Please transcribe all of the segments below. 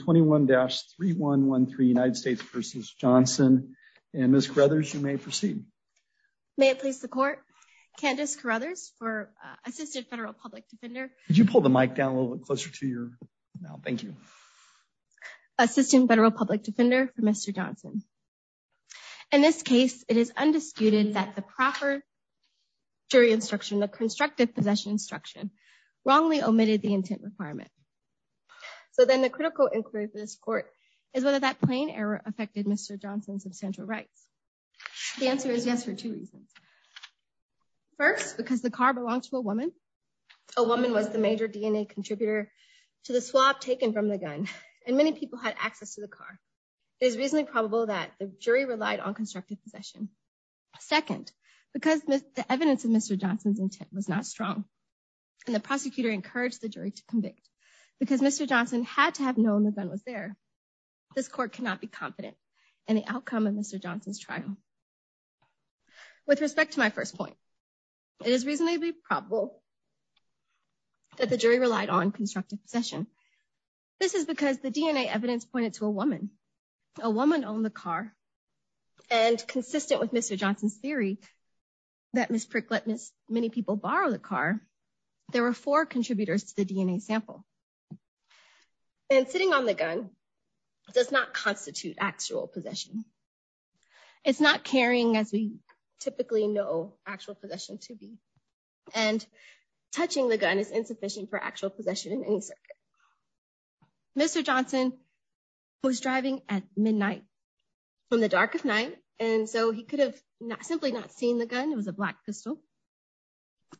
21-3113 United States v. Johnson. And Ms. Carruthers, you may proceed. May it please the court. Candace Carruthers for Assistant Federal Public Defender. Could you pull the mic down a little bit closer to your mouth? Thank you. Assistant Federal Public Defender for Mr. Johnson. In this case, it is undisputed that the proper jury instruction, the constructive possession wrongly omitted the intent requirement. So then the critical inquiry for this court is whether that plain error affected Mr. Johnson's substantial rights. The answer is yes for two reasons. First, because the car belonged to a woman. A woman was the major DNA contributor to the swap taken from the gun, and many people had access to the car. It is reasonably probable that the jury relied on constructive possession. Second, because the evidence of Mr. Johnson's intent was not strong, and the prosecutor encouraged the jury to convict because Mr. Johnson had to have known the gun was there. This court cannot be confident in the outcome of Mr. Johnson's trial. With respect to my first point, it is reasonably probable that the jury relied on constructive possession. This is because the DNA evidence pointed to a Mr. Johnson's theory that Ms. Pricklet missed many people borrow the car. There were four contributors to the DNA sample. And sitting on the gun does not constitute actual possession. It's not carrying as we typically know actual possession to be. And touching the gun is insufficient for actual possession in any circuit. Mr. Johnson was driving at midnight, in the dark of night, and so he could have simply not seen the gun. It was a black pistol.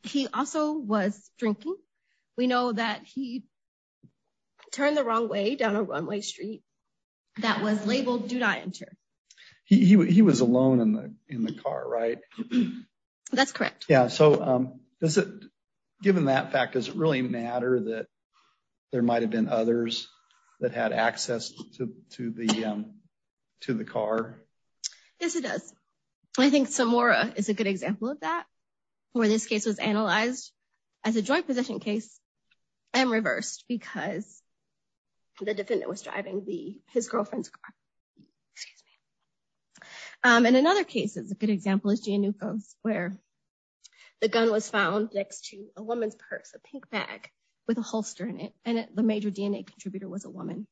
He also was drinking. We know that he turned the wrong way down a runway street that was labeled do not enter. He was alone in the car, right? That's correct. Yeah, so given that fact, does it really matter that there might have been others that had access to the car? Yes, it does. I think Samora is a good example of that, where this case was analyzed as a joint possession case and reversed because the defendant was driving his girlfriend's car. And in other cases, a good example is Giannoukos, where the gun was found next to a woman's purse, a pink bag with a holster in it, and the major DNA contributor was a woman.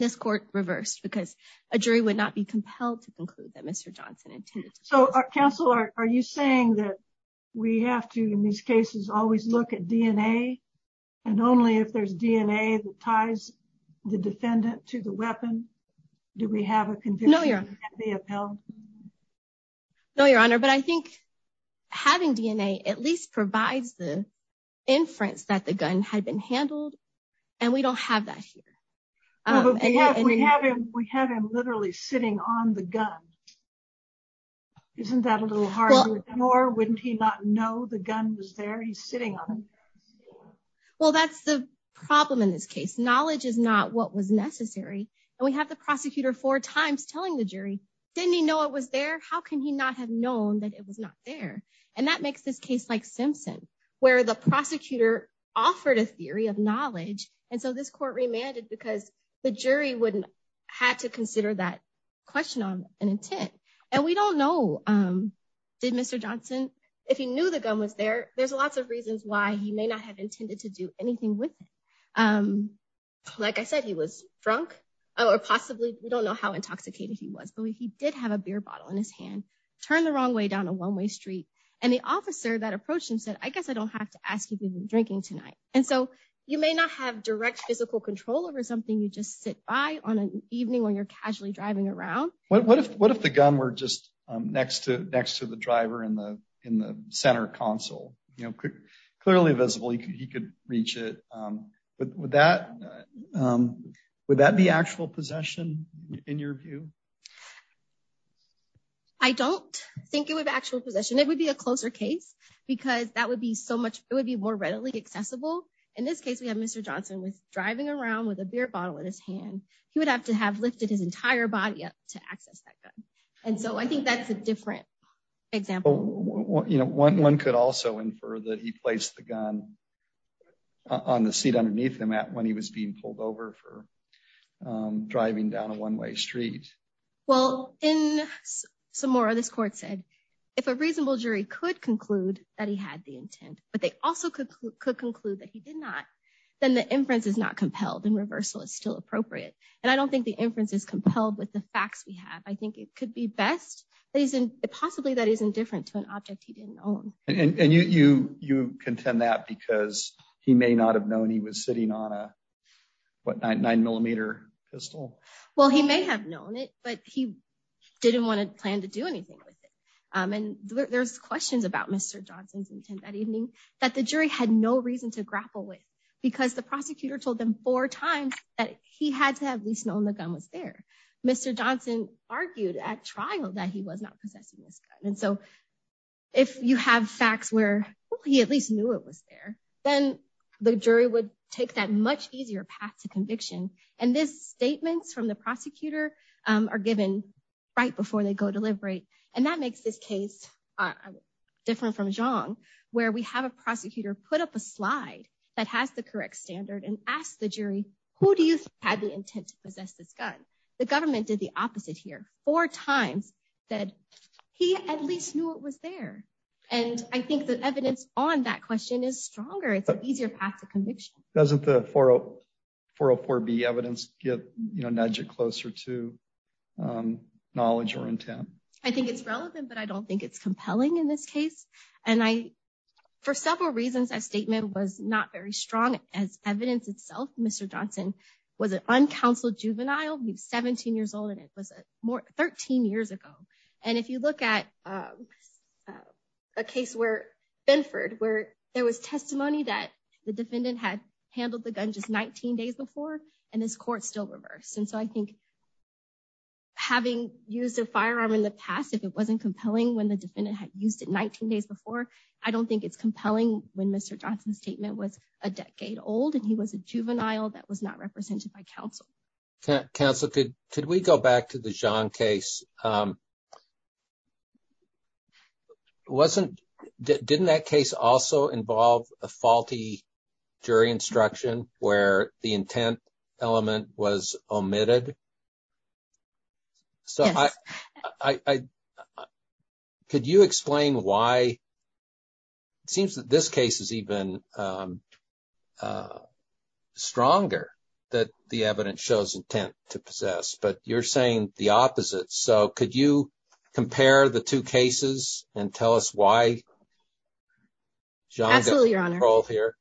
This court reversed because a jury would not be compelled to conclude that Mr. Johnson intended to. So, counsel, are you saying that we have to, in these cases, always look at DNA and only if there's DNA that ties the defendant to the weapon, do we have a conviction that can be upheld? No, Your Honor, but I think having DNA at least provides the inference that the gun had been found. We have him literally sitting on the gun. Isn't that a little hard to ignore? Wouldn't he not know the gun was there? He's sitting on it. Well, that's the problem in this case. Knowledge is not what was necessary. And we have the prosecutor four times telling the jury, didn't he know it was there? How can he not have known that it was not there? And that makes this case like Simpson, where the prosecutor offered a jury wouldn't have to consider that question on an intent. And we don't know, did Mr. Johnson, if he knew the gun was there, there's lots of reasons why he may not have intended to do anything with it. Like I said, he was drunk or possibly, we don't know how intoxicated he was, but he did have a beer bottle in his hand, turned the wrong way down a one-way street. And the officer that approached him said, I guess I don't have to ask you to be drinking tonight. And so you may not have direct physical control over something you just sit by on an evening when you're casually driving around. What if the gun were just next to the driver in the center console, clearly visible, he could reach it. Would that be actual possession in your view? I don't think it would be actual possession. It would be a closer case because that would be so readily accessible. In this case, we have Mr. Johnson was driving around with a beer bottle in his hand. He would have to have lifted his entire body up to access that gun. And so I think that's a different example. One could also infer that he placed the gun on the seat underneath the mat when he was being pulled over for driving down a one-way street. Well, in Samora, this court said if a reasonable jury could conclude that he had the intent, but they also could conclude that he did not, then the inference is not compelled and reversal is still appropriate. And I don't think the inference is compelled with the facts we have. I think it could be best that he's in possibly that he's indifferent to an object he didn't own. And you contend that because he may not have known he was sitting on a nine millimeter pistol. Well, he may have known it, but he didn't want to plan to do anything with it. And there's questions about Mr. Johnson's intent that evening that the jury had no reason to grapple with because the prosecutor told them four times that he had to have at least known the gun was there. Mr. Johnson argued at trial that he was not possessing this gun. And so if you have facts where he at least knew it was there, then the jury would take that much easier path to conviction. And this statements from the prosecutor are given right before they go deliberate. And that makes this case different from Zhang, where we have a prosecutor put up a slide that has the correct standard and ask the jury, who do you have the intent to possess this gun? The government did the opposite here four times that he at least knew it was there. And I think the evidence on that question is stronger. It's an easier path to conviction. Doesn't the 404B evidence get nudged closer to knowledge or intent? I think it's relevant, but I don't think it's compelling in this case. And I, for several reasons, that statement was not very strong as evidence itself. Mr. Johnson was an uncounseled juvenile. He was 17 years old and it was more 13 years ago. And if you look at a case where Benford, where there was testimony that the defendant had handled the gun just 19 days before, and this court still reversed. And so I think having used a firearm in the past, if it wasn't compelling when the defendant had used it 19 days before, I don't think it's compelling when Mr. Johnson's statement was a decade old and he was a juvenile that was not represented by counsel. Counsel, could we go back to the Zhang case? Wasn't, didn't that case also involve a faulty jury instruction where the intent element was omitted? So I, could you explain why, it seems that this case is even stronger that the evidence shows intent to possess, but you're saying the opposite. So could you compare the two cases and tell us why Zhang got controlled here?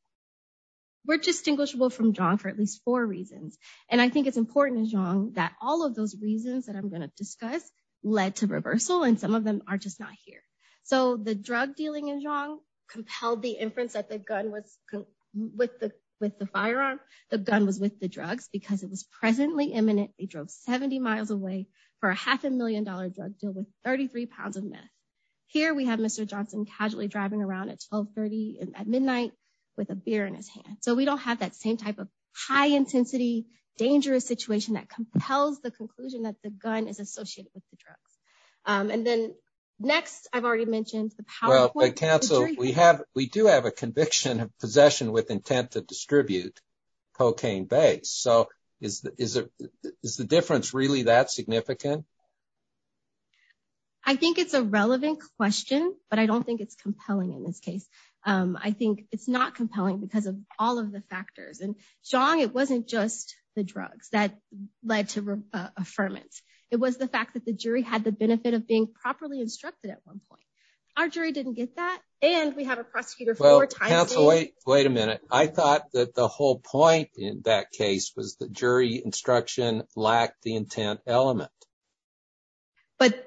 We're distinguishable from Zhang for at least four reasons. And I think it's important in Zhang that all of those reasons that I'm going to discuss led to reversal and some of them are not here. So the drug dealing in Zhang compelled the inference that the gun was with the firearm. The gun was with the drugs because it was presently imminent. They drove 70 miles away for a half a million dollar drug deal with 33 pounds of meth. Here we have Mr. Johnson casually driving around at 1230 at midnight with a beer in his hand. So we don't have that same type of high intensity, dangerous situation that compels the conclusion that the next, I've already mentioned the PowerPoint. Well, counsel, we do have a conviction of possession with intent to distribute cocaine base. So is the difference really that significant? I think it's a relevant question, but I don't think it's compelling in this case. I think it's not compelling because of all of the factors. And Zhang, it wasn't just the drugs that led to affirmance. It was the fact that the jury had the benefit of being properly instructed at one point. Our jury didn't get that. And we have a prosecutor four times. Wait a minute. I thought that the whole point in that case was the jury instruction lacked the intent element. But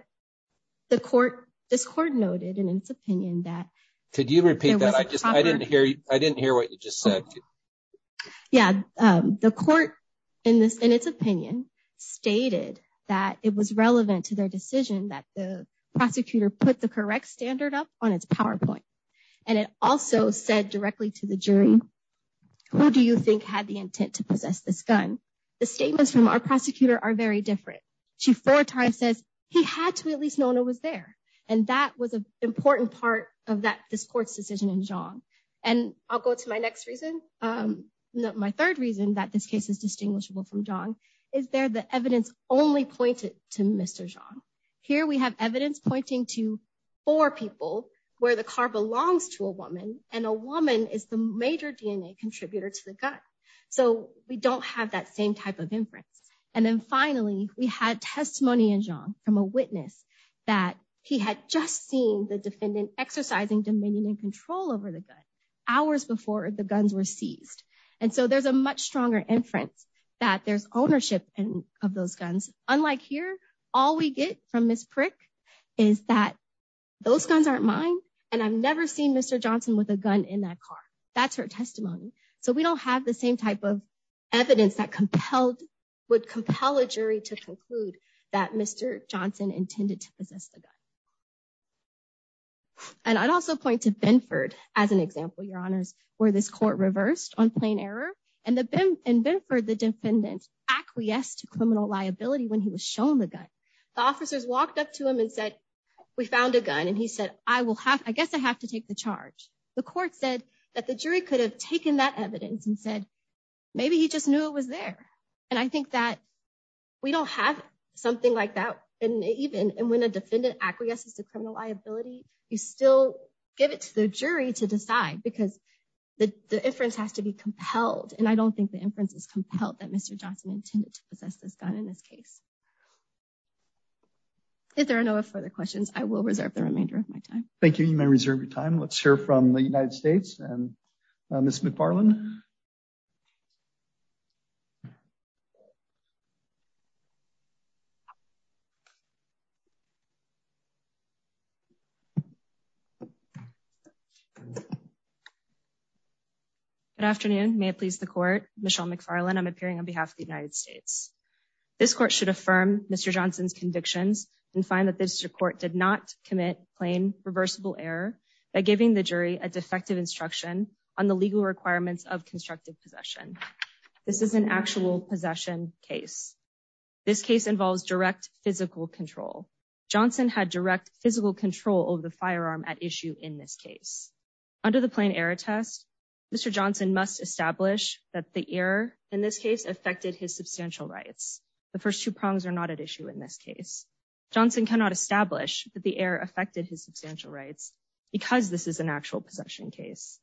the court, this court noted in its opinion that. Could you repeat that? I just, I didn't hear what you just said. Yeah. The court in its opinion stated that it was relevant to their decision that the prosecutor put the correct standard up on its PowerPoint. And it also said directly to the jury, who do you think had the intent to possess this gun? The statements from our prosecutor are very different. She four times says he had to at least known it was there. And that was an important part of that this court's decision in Zhang. And I'll go to my next reason. My third reason that this case is distinguishable from Zhang is there the evidence only pointed to Mr. Zhang. Here we have evidence pointing to four people where the car belongs to a woman and a woman is the major DNA contributor to the gun. So we don't have that same type of inference. And then finally, we had testimony in Zhang from a witness that he had just seen the defendant exercising dominion and control over the gun hours before the guns were seized. And so there's a much stronger inference that there's ownership of those guns. Unlike here, all we get from Ms. Prick is that those guns aren't mine. And I've never seen Mr. Johnson with a gun in that car. That's her testimony. So we don't have the same type of evidence that compelled would compel a jury to conclude that Mr. Johnson intended to possess the gun. And I'd also point to Benford as an example, Your Honors, where this court reversed on plain error and the Benford the defendant acquiesced to criminal liability when he was shown the gun. The officers walked up to him and said, we found a gun and he said, I will have I guess I have to take the charge. The court said that the jury could have taken that evidence and said, maybe he just knew it was there. And I think that we don't have something like that. And even when a defendant acquiesces to criminal liability, you still give it to the jury to decide because the inference has to be compelled. And I don't think the inference is compelled that Mr. Johnson intended to possess this gun in this case. If there are no further questions, I will reserve the remainder of my time. Thank you. You may reserve your time. Let's hear from the United States and Miss McFarland. Good afternoon. May it please the court. Michelle McFarland. I'm appearing on behalf of the United States. This court should affirm Mr. Johnson's convictions and find that this court did not commit plain reversible error by giving the jury a defective instruction on the legal requirements of constructive possession. This is an actual possession case. This case involves direct physical control. Johnson had direct physical control over the firearm at issue in this case. Under the plain error test, Mr. Johnson must establish that the error in this case affected his substantial rights. The first two prongs are not at issue in this case. Johnson cannot establish that the error affected his substantial rights because this is an actual possession case.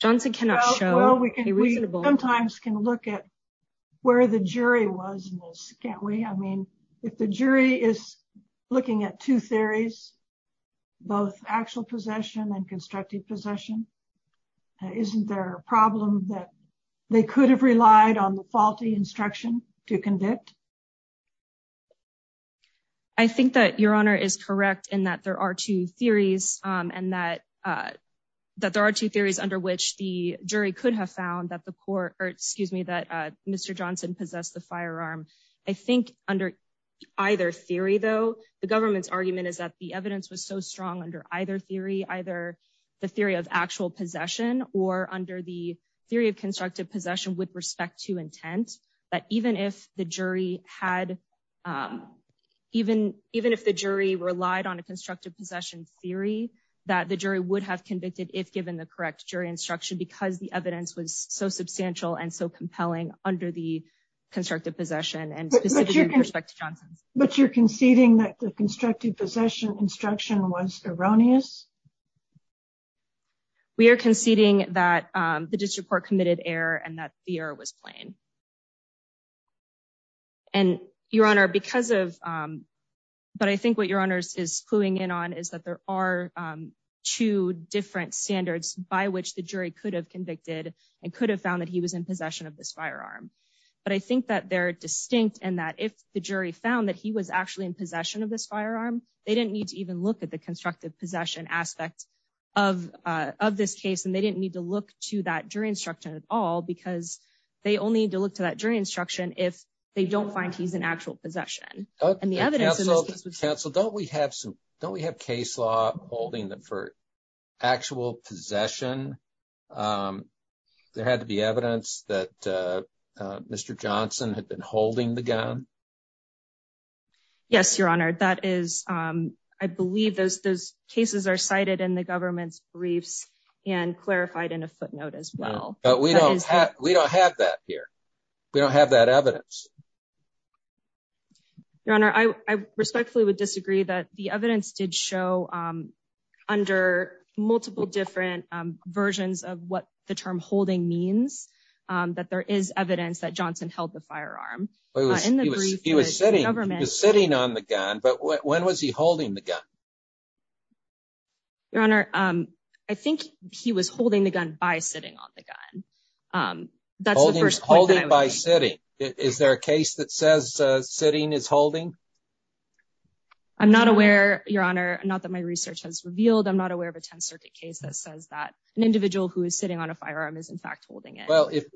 Johnson cannot show a reasonable... We sometimes can look at where the jury was in this, can't we? I mean if the jury is looking at two theories, both actual possession and constructive possession, isn't there a problem that they could have relied on the faulty instruction to convict? I think that your honor is correct in that there are two theories and that there are two theories under which the jury could have found that the court, or excuse me, that Mr. Johnson possessed the firearm. I think under either theory though, the government's argument is that the evidence was so strong under either theory, either the theory of actual possession or under the theory of constructive possession with respect to intent, that even if the jury had, even if the jury relied on a constructive possession theory, that the jury would have convicted if given the correct jury instruction because the evidence was so substantial and so compelling under the constructive possession and specifically with respect to Johnson's. But you're conceding that the constructive possession instruction was erroneous? We are conceding that the district court committed error and that the error was plain. And your honor, because of, but I think what your honors is cluing in on is that there are two different standards by which the jury could have convicted and could have found that he was in possession of this firearm. But I think that they're distinct and that if the jury found that he was actually in possession of this firearm, they didn't need to even look at the constructive possession aspect of this case. And they didn't need to look to that jury instruction at all because they only need to look to that jury instruction if they don't find he's in actual possession. And the evidence in this case... Counsel, don't we have some, don't we have case law holding that for actual possession, there had to be evidence that Mr. Johnson had been holding the gun? Yes, your honor. That is, I believe those cases are cited in the government's But we don't have that here. We don't have that evidence. Your honor, I respectfully would disagree that the evidence did show under multiple different versions of what the term holding means, that there is evidence that Johnson held the firearm. He was sitting on the gun, but when was he holding the gun? Your honor, I think he was holding the gun by sitting on the gun. That's the first point. Holding by sitting. Is there a case that says sitting is holding? I'm not aware, your honor, not that my research has revealed, I'm not aware of a 10th Circuit case that says that an individual who is sitting on a firearm is in fact holding it.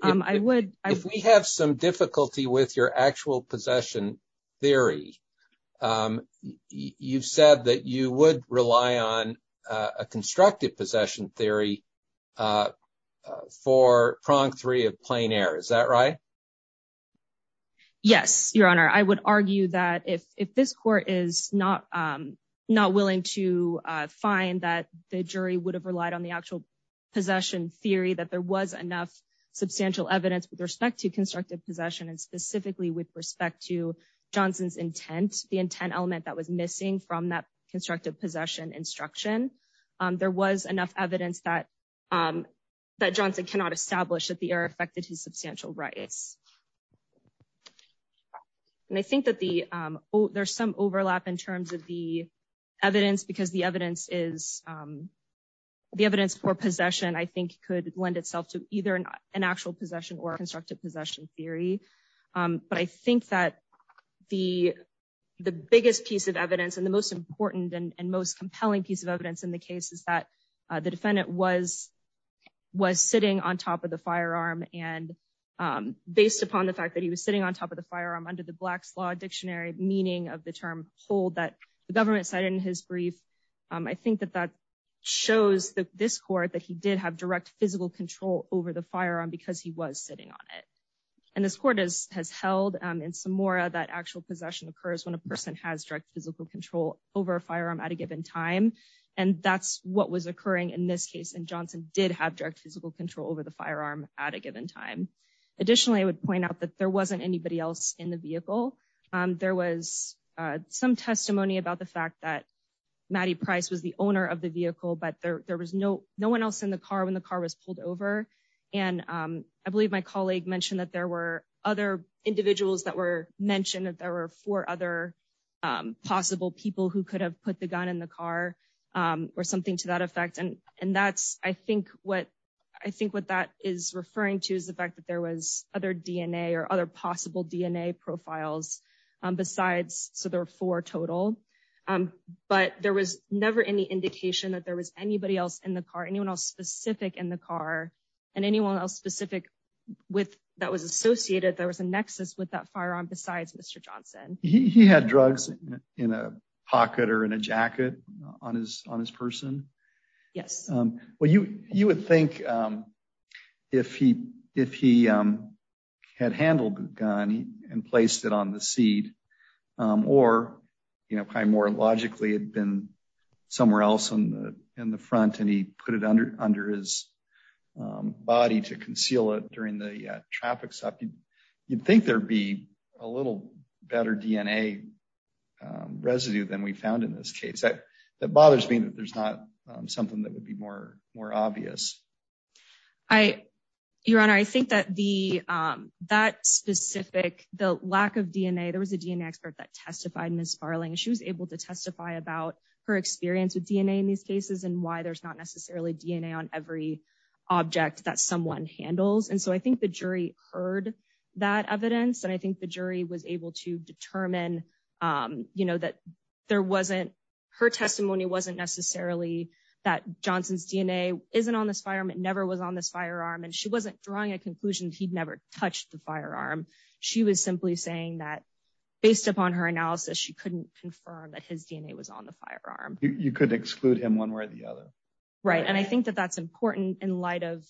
I would... If we have some difficulty with your actual possession theory, you've said that you would rely on a constructive possession theory for prong three of plain air. Is that right? Yes, your honor. I would argue that if this court is not willing to find that the jury would have relied on the actual possession theory, that there was enough substantial evidence with respect to constructive possession and specifically with respect to Johnson's intent, the intent element that was missing from that constructive possession instruction. There was enough evidence that Johnson cannot establish that the air affected his substantial rights. And I think that there's some overlap in terms of the evidence for possession, I think could lend itself to either an actual possession or a constructive possession theory. But I think that the biggest piece of evidence and the most important and most compelling piece of evidence in the case is that the defendant was sitting on top of the firearm and based upon the fact that he was sitting on top of the firearm under the Black's Law Dictionary meaning of the term hold that the government cited in his brief. I think that that shows that this court that he did have direct physical control over the firearm because he was sitting on it. And this court has held in Samora that actual possession occurs when a person has direct physical control over a firearm at a given time. And that's what was occurring in this case. And Johnson did have direct physical control over the firearm at a given time. Additionally, I would point out that there wasn't anybody else in the vehicle. There was some testimony about the fact that Mattie Price was the owner of the vehicle, but there was no one else in the car when the car was pulled over. And I believe my colleague mentioned that there were other individuals that were mentioned that there were four other possible people who could have put the gun in the car or something to that effect. And that's, I think what that is referring to is the fact that there was other DNA or other possible DNA profiles besides. So there were four total, but there was never any indication that there was anybody else in the car, anyone else specific in the car and anyone else specific with that was associated. There was a nexus with that firearm besides Mr. Johnson. He had drugs in a pocket or in a jacket on his, on his person. Yes. Well, you, you would think if he, if he had handled the gun and placed it on the seat or, you know, probably more logically had been somewhere else in the, in the front and he put it under, under his body to conceal it during the traffic stop. You'd think there'd be a little better DNA residue than we found in this case. That, that bothers me that there's not something that would be more, more obvious. I, Your Honor, I think that the, that specific, the lack of DNA, there was a DNA expert that testified Ms. Farling. She was able to testify about her experience with DNA in these cases and why there's not necessarily DNA on every object that someone handles. And so I think the jury heard that evidence and I think the jury was able to determine, you know, that there wasn't, her testimony wasn't necessarily that Johnson's DNA isn't on this firearm. It never was on this firearm. And she wasn't drawing a conclusion. He'd never touched the firearm. She was simply saying that based upon her analysis, she couldn't confirm that his DNA was on the firearm. You couldn't exclude him one way or the other. Right. And I think that that's important in light of,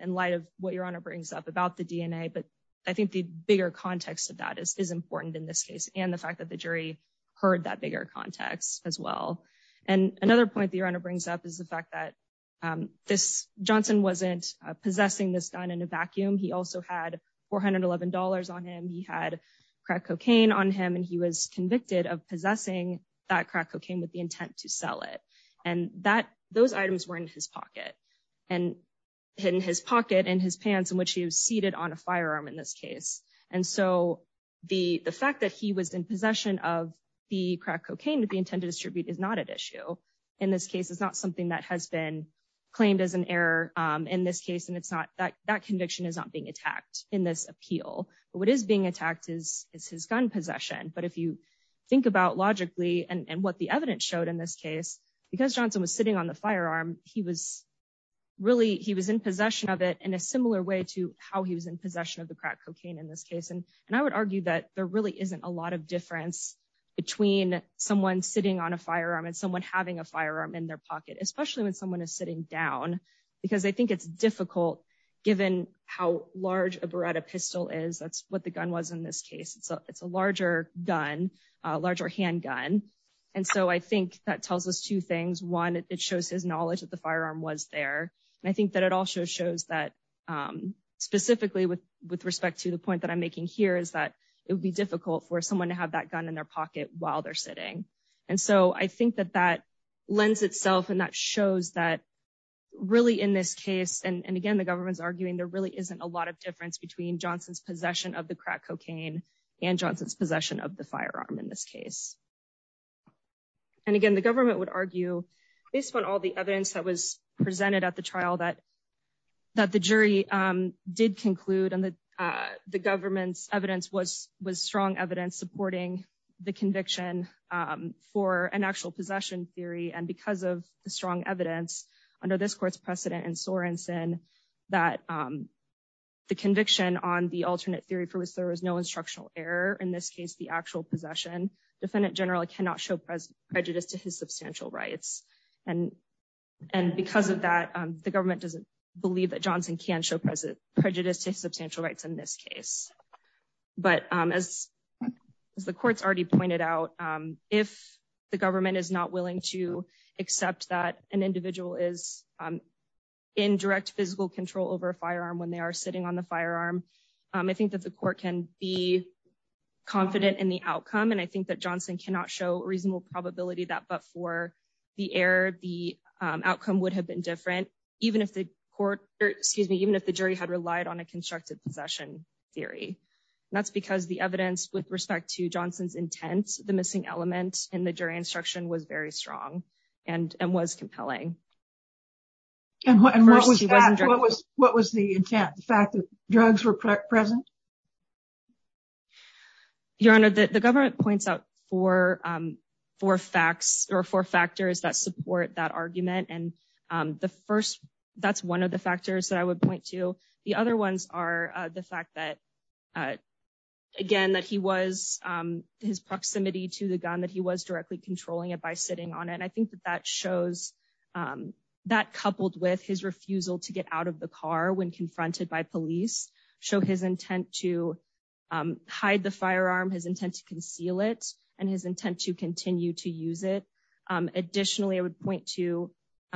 in light of what Your Honor brings up about the DNA. But I think the bigger context of that is, is important in this case. And the fact that the jury heard that bigger context as well. And another point that Your Honor brings up is the fact that this Johnson wasn't possessing this gun in a vacuum. He also had $411 on him. He had crack cocaine on him and he was convicted of possessing that crack cocaine with the intent to sell it. And that, those items were in his and hidden his pocket and his pants in which he was seated on a firearm in this case. And so the, the fact that he was in possession of the crack cocaine that the intended distribute is not an issue. In this case, it's not something that has been claimed as an error in this case. And it's not that that conviction is not being attacked in this appeal, but what is being attacked is, is his gun possession. But if you think about logically and what the evidence showed in this case, because Johnson was sitting on the firearm, he was really, he was in possession of it in a similar way to how he was in possession of the crack cocaine in this case. And, and I would argue that there really isn't a lot of difference between someone sitting on a firearm and someone having a firearm in their pocket, especially when someone is sitting down, because I think it's difficult given how large a Beretta pistol is. That's what the gun was in this case. It's a, larger gun, a larger handgun. And so I think that tells us two things. One, it shows his knowledge that the firearm was there. And I think that it also shows that specifically with, with respect to the point that I'm making here is that it would be difficult for someone to have that gun in their pocket while they're sitting. And so I think that that lends itself and that shows that really in this case, and again, the government's arguing there really isn't a lot of difference between Johnson's possession of the crack cocaine and Johnson's possession of the firearm in this case. And again, the government would argue based on all the evidence that was presented at the trial that, that the jury did conclude and that the government's evidence was, was strong evidence supporting the conviction for an actual possession theory. And because of the strong evidence under this court's precedent in Sorenson, that the conviction on the alternate theory for which there was no instructional error, in this case, the actual possession, defendant general cannot show prejudice to his substantial rights. And, and because of that, the government doesn't believe that Johnson can show present prejudice to substantial rights in this case. But as the court's already pointed out, if the government is not willing to accept that an individual is in direct physical control over a firearm, when they are sitting on the firearm, I think that the court can be confident in the outcome. And I think that Johnson cannot show reasonable probability that but for the error, the outcome would have been different, even if the court, excuse me, even if the jury had relied on a constructive possession theory. That's because the evidence with respect to Johnson's intent, the missing element in the jury instruction was very strong, and was compelling. What was the intent, the fact that drugs were present? Your Honor, the government points out four, four facts or four factors that support that argument. And the first, that's one of the factors that I would point to the other ones are the fact that, again, that he was his proximity to the gun that he was directly controlling it by sitting on it. And I think that that shows that coupled with his refusal to get out of the car when confronted by police show his intent to hide the firearm, his intent to conceal it, and his intent to continue to use it. Additionally, I would point to,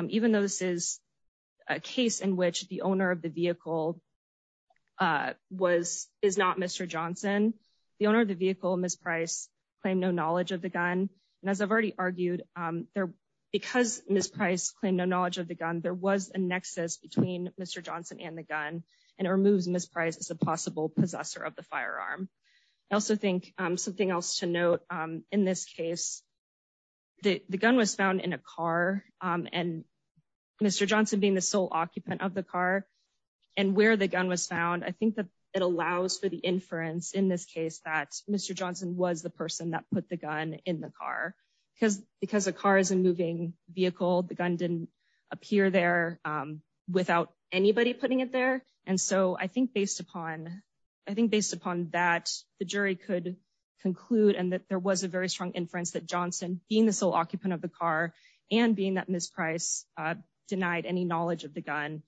even though this is a case in which the owner of the vehicle, Ms. Price, claimed no knowledge of the gun. And as I've already argued, because Ms. Price claimed no knowledge of the gun, there was a nexus between Mr. Johnson and the gun. And it removes Ms. Price as a possible possessor of the firearm. I also think something else to note in this case, the gun was found in a car and Mr. Johnson being the sole occupant of the car and where the gun was found. I think that it allows for the inference in this case that Mr. Johnson was the person that put the gun in the car. Because a car is a moving vehicle, the gun didn't appear there without anybody putting it there. And so I think based upon that, the jury could conclude and that there was a very strong inference that Johnson, being the sole occupant of the car and being that Ms. Price denied any knowledge of the gun,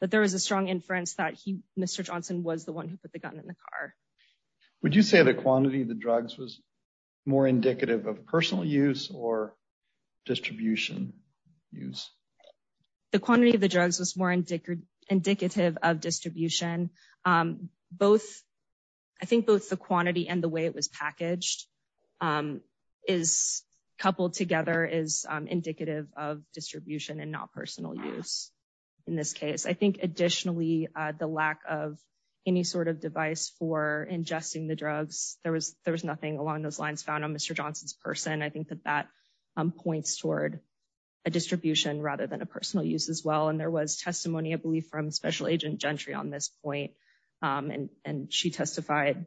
that there was a strong inference that Mr. Johnson was the one who put the gun in the car. Would you say the quantity of the drugs was more indicative of personal use or distribution use? The quantity of the drugs was more indicative of distribution. I think both the quantity and the way it was packaged, coupled together, is indicative of distribution and not personal use in this case. I think additionally, the lack of any sort of device for ingesting the drugs, there was nothing along those lines found on Mr. Johnson's person. I think that that points toward a distribution rather than a personal use as well. And there was testimony, I believe, from Special Agent Gentry on this point. And she testified,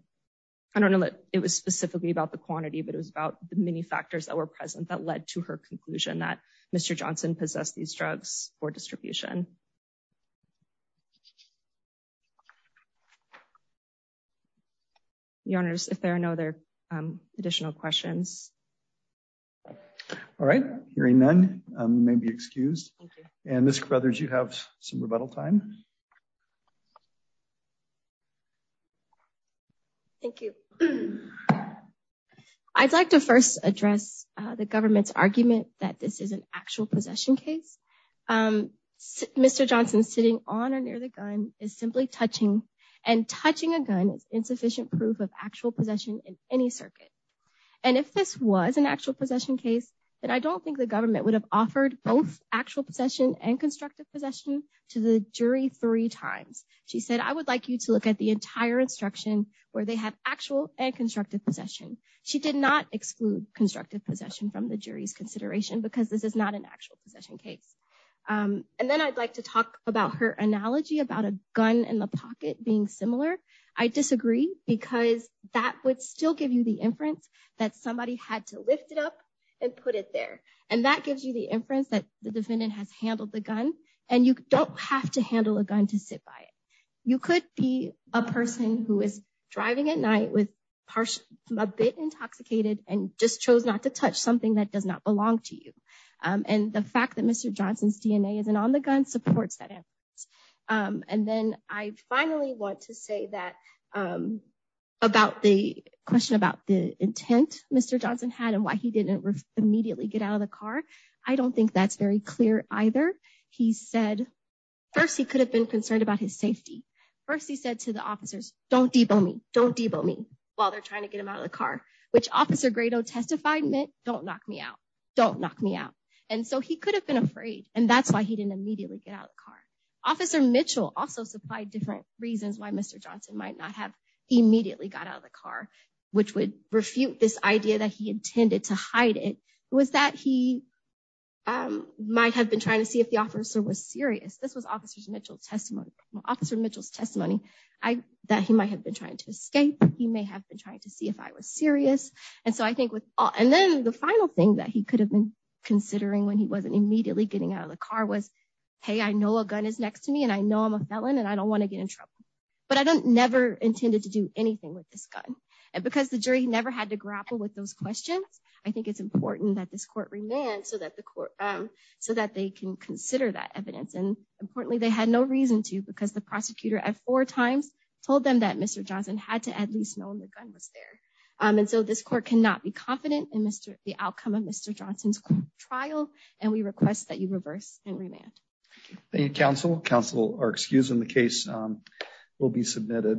I don't know that it was specifically about the quantity, but it was about the many factors that were present that led to her conclusion that Mr. Johnson possessed these drugs for distribution. Your Honors, if there are no other additional questions. All right, hearing none, you may be excused. And Ms. Carruthers, you have some rebuttal time. Thank you. I'd like to first address the government's argument that this is an actual possession case. Mr. Johnson sitting on or near the gun is simply touching, and touching a gun is insufficient proof of actual possession in any circuit. And if this was an actual possession case, then I don't think the government would have offered both actual possession and constructive possession to the jury three times. She said, I would like you to look at the entire instruction where they have actual and constructive possession. She did not exclude constructive possession from the jury's consideration because this is not an actual possession case. And then I'd like to talk about her analogy about a gun in the pocket being similar. I disagree because that would still give you the inference that somebody had to lift it up and put it there. And that gives you the inference that the defendant has handled the gun. And you don't have to handle a gun to sit by it. You could be a person who is driving at night with a bit intoxicated and just chose not to touch something that does not belong to you. And the fact that Mr. Johnson's DNA isn't on the gun supports that. And then I finally want to say that about the question about the intent Mr. Johnson had and why he didn't immediately get out of the car. I don't think that's very clear either. He said, first, he could have been concerned about his safety. First, he said to the officers, don't de-bow me, don't de-bow me while they're trying to get him out of the car, which Officer Grado testified meant, don't knock me out, don't knock me out. And so he could have been afraid. And that's why he didn't immediately get out of the car. Officer Mitchell also supplied different reasons why Mr. Johnson might not have immediately got out of the car, which would refute this idea that he intended to hide it. It was that he might have been trying to see if the officer was serious. This was Officer Mitchell's testimony, that he might have been trying to escape. He may have been trying to see if I was serious. And then the final thing that he could have been considering when he wasn't immediately getting out of the car was, hey, I know a gun is a weapon, and I know that I might get in trouble. But I don't never intended to do anything with this gun. And because the jury never had to grapple with those questions, I think it's important that this court remand so that the court, so that they can consider that evidence. And importantly, they had no reason to, because the prosecutor at four times told them that Mr. Johnson had to at least know the gun was there. And so this court cannot be confident in the outcome of Mr. Johnson's trial, and we request that you reverse and remand. Thank you, counsel. Counsel are excused, and the case will be submitted.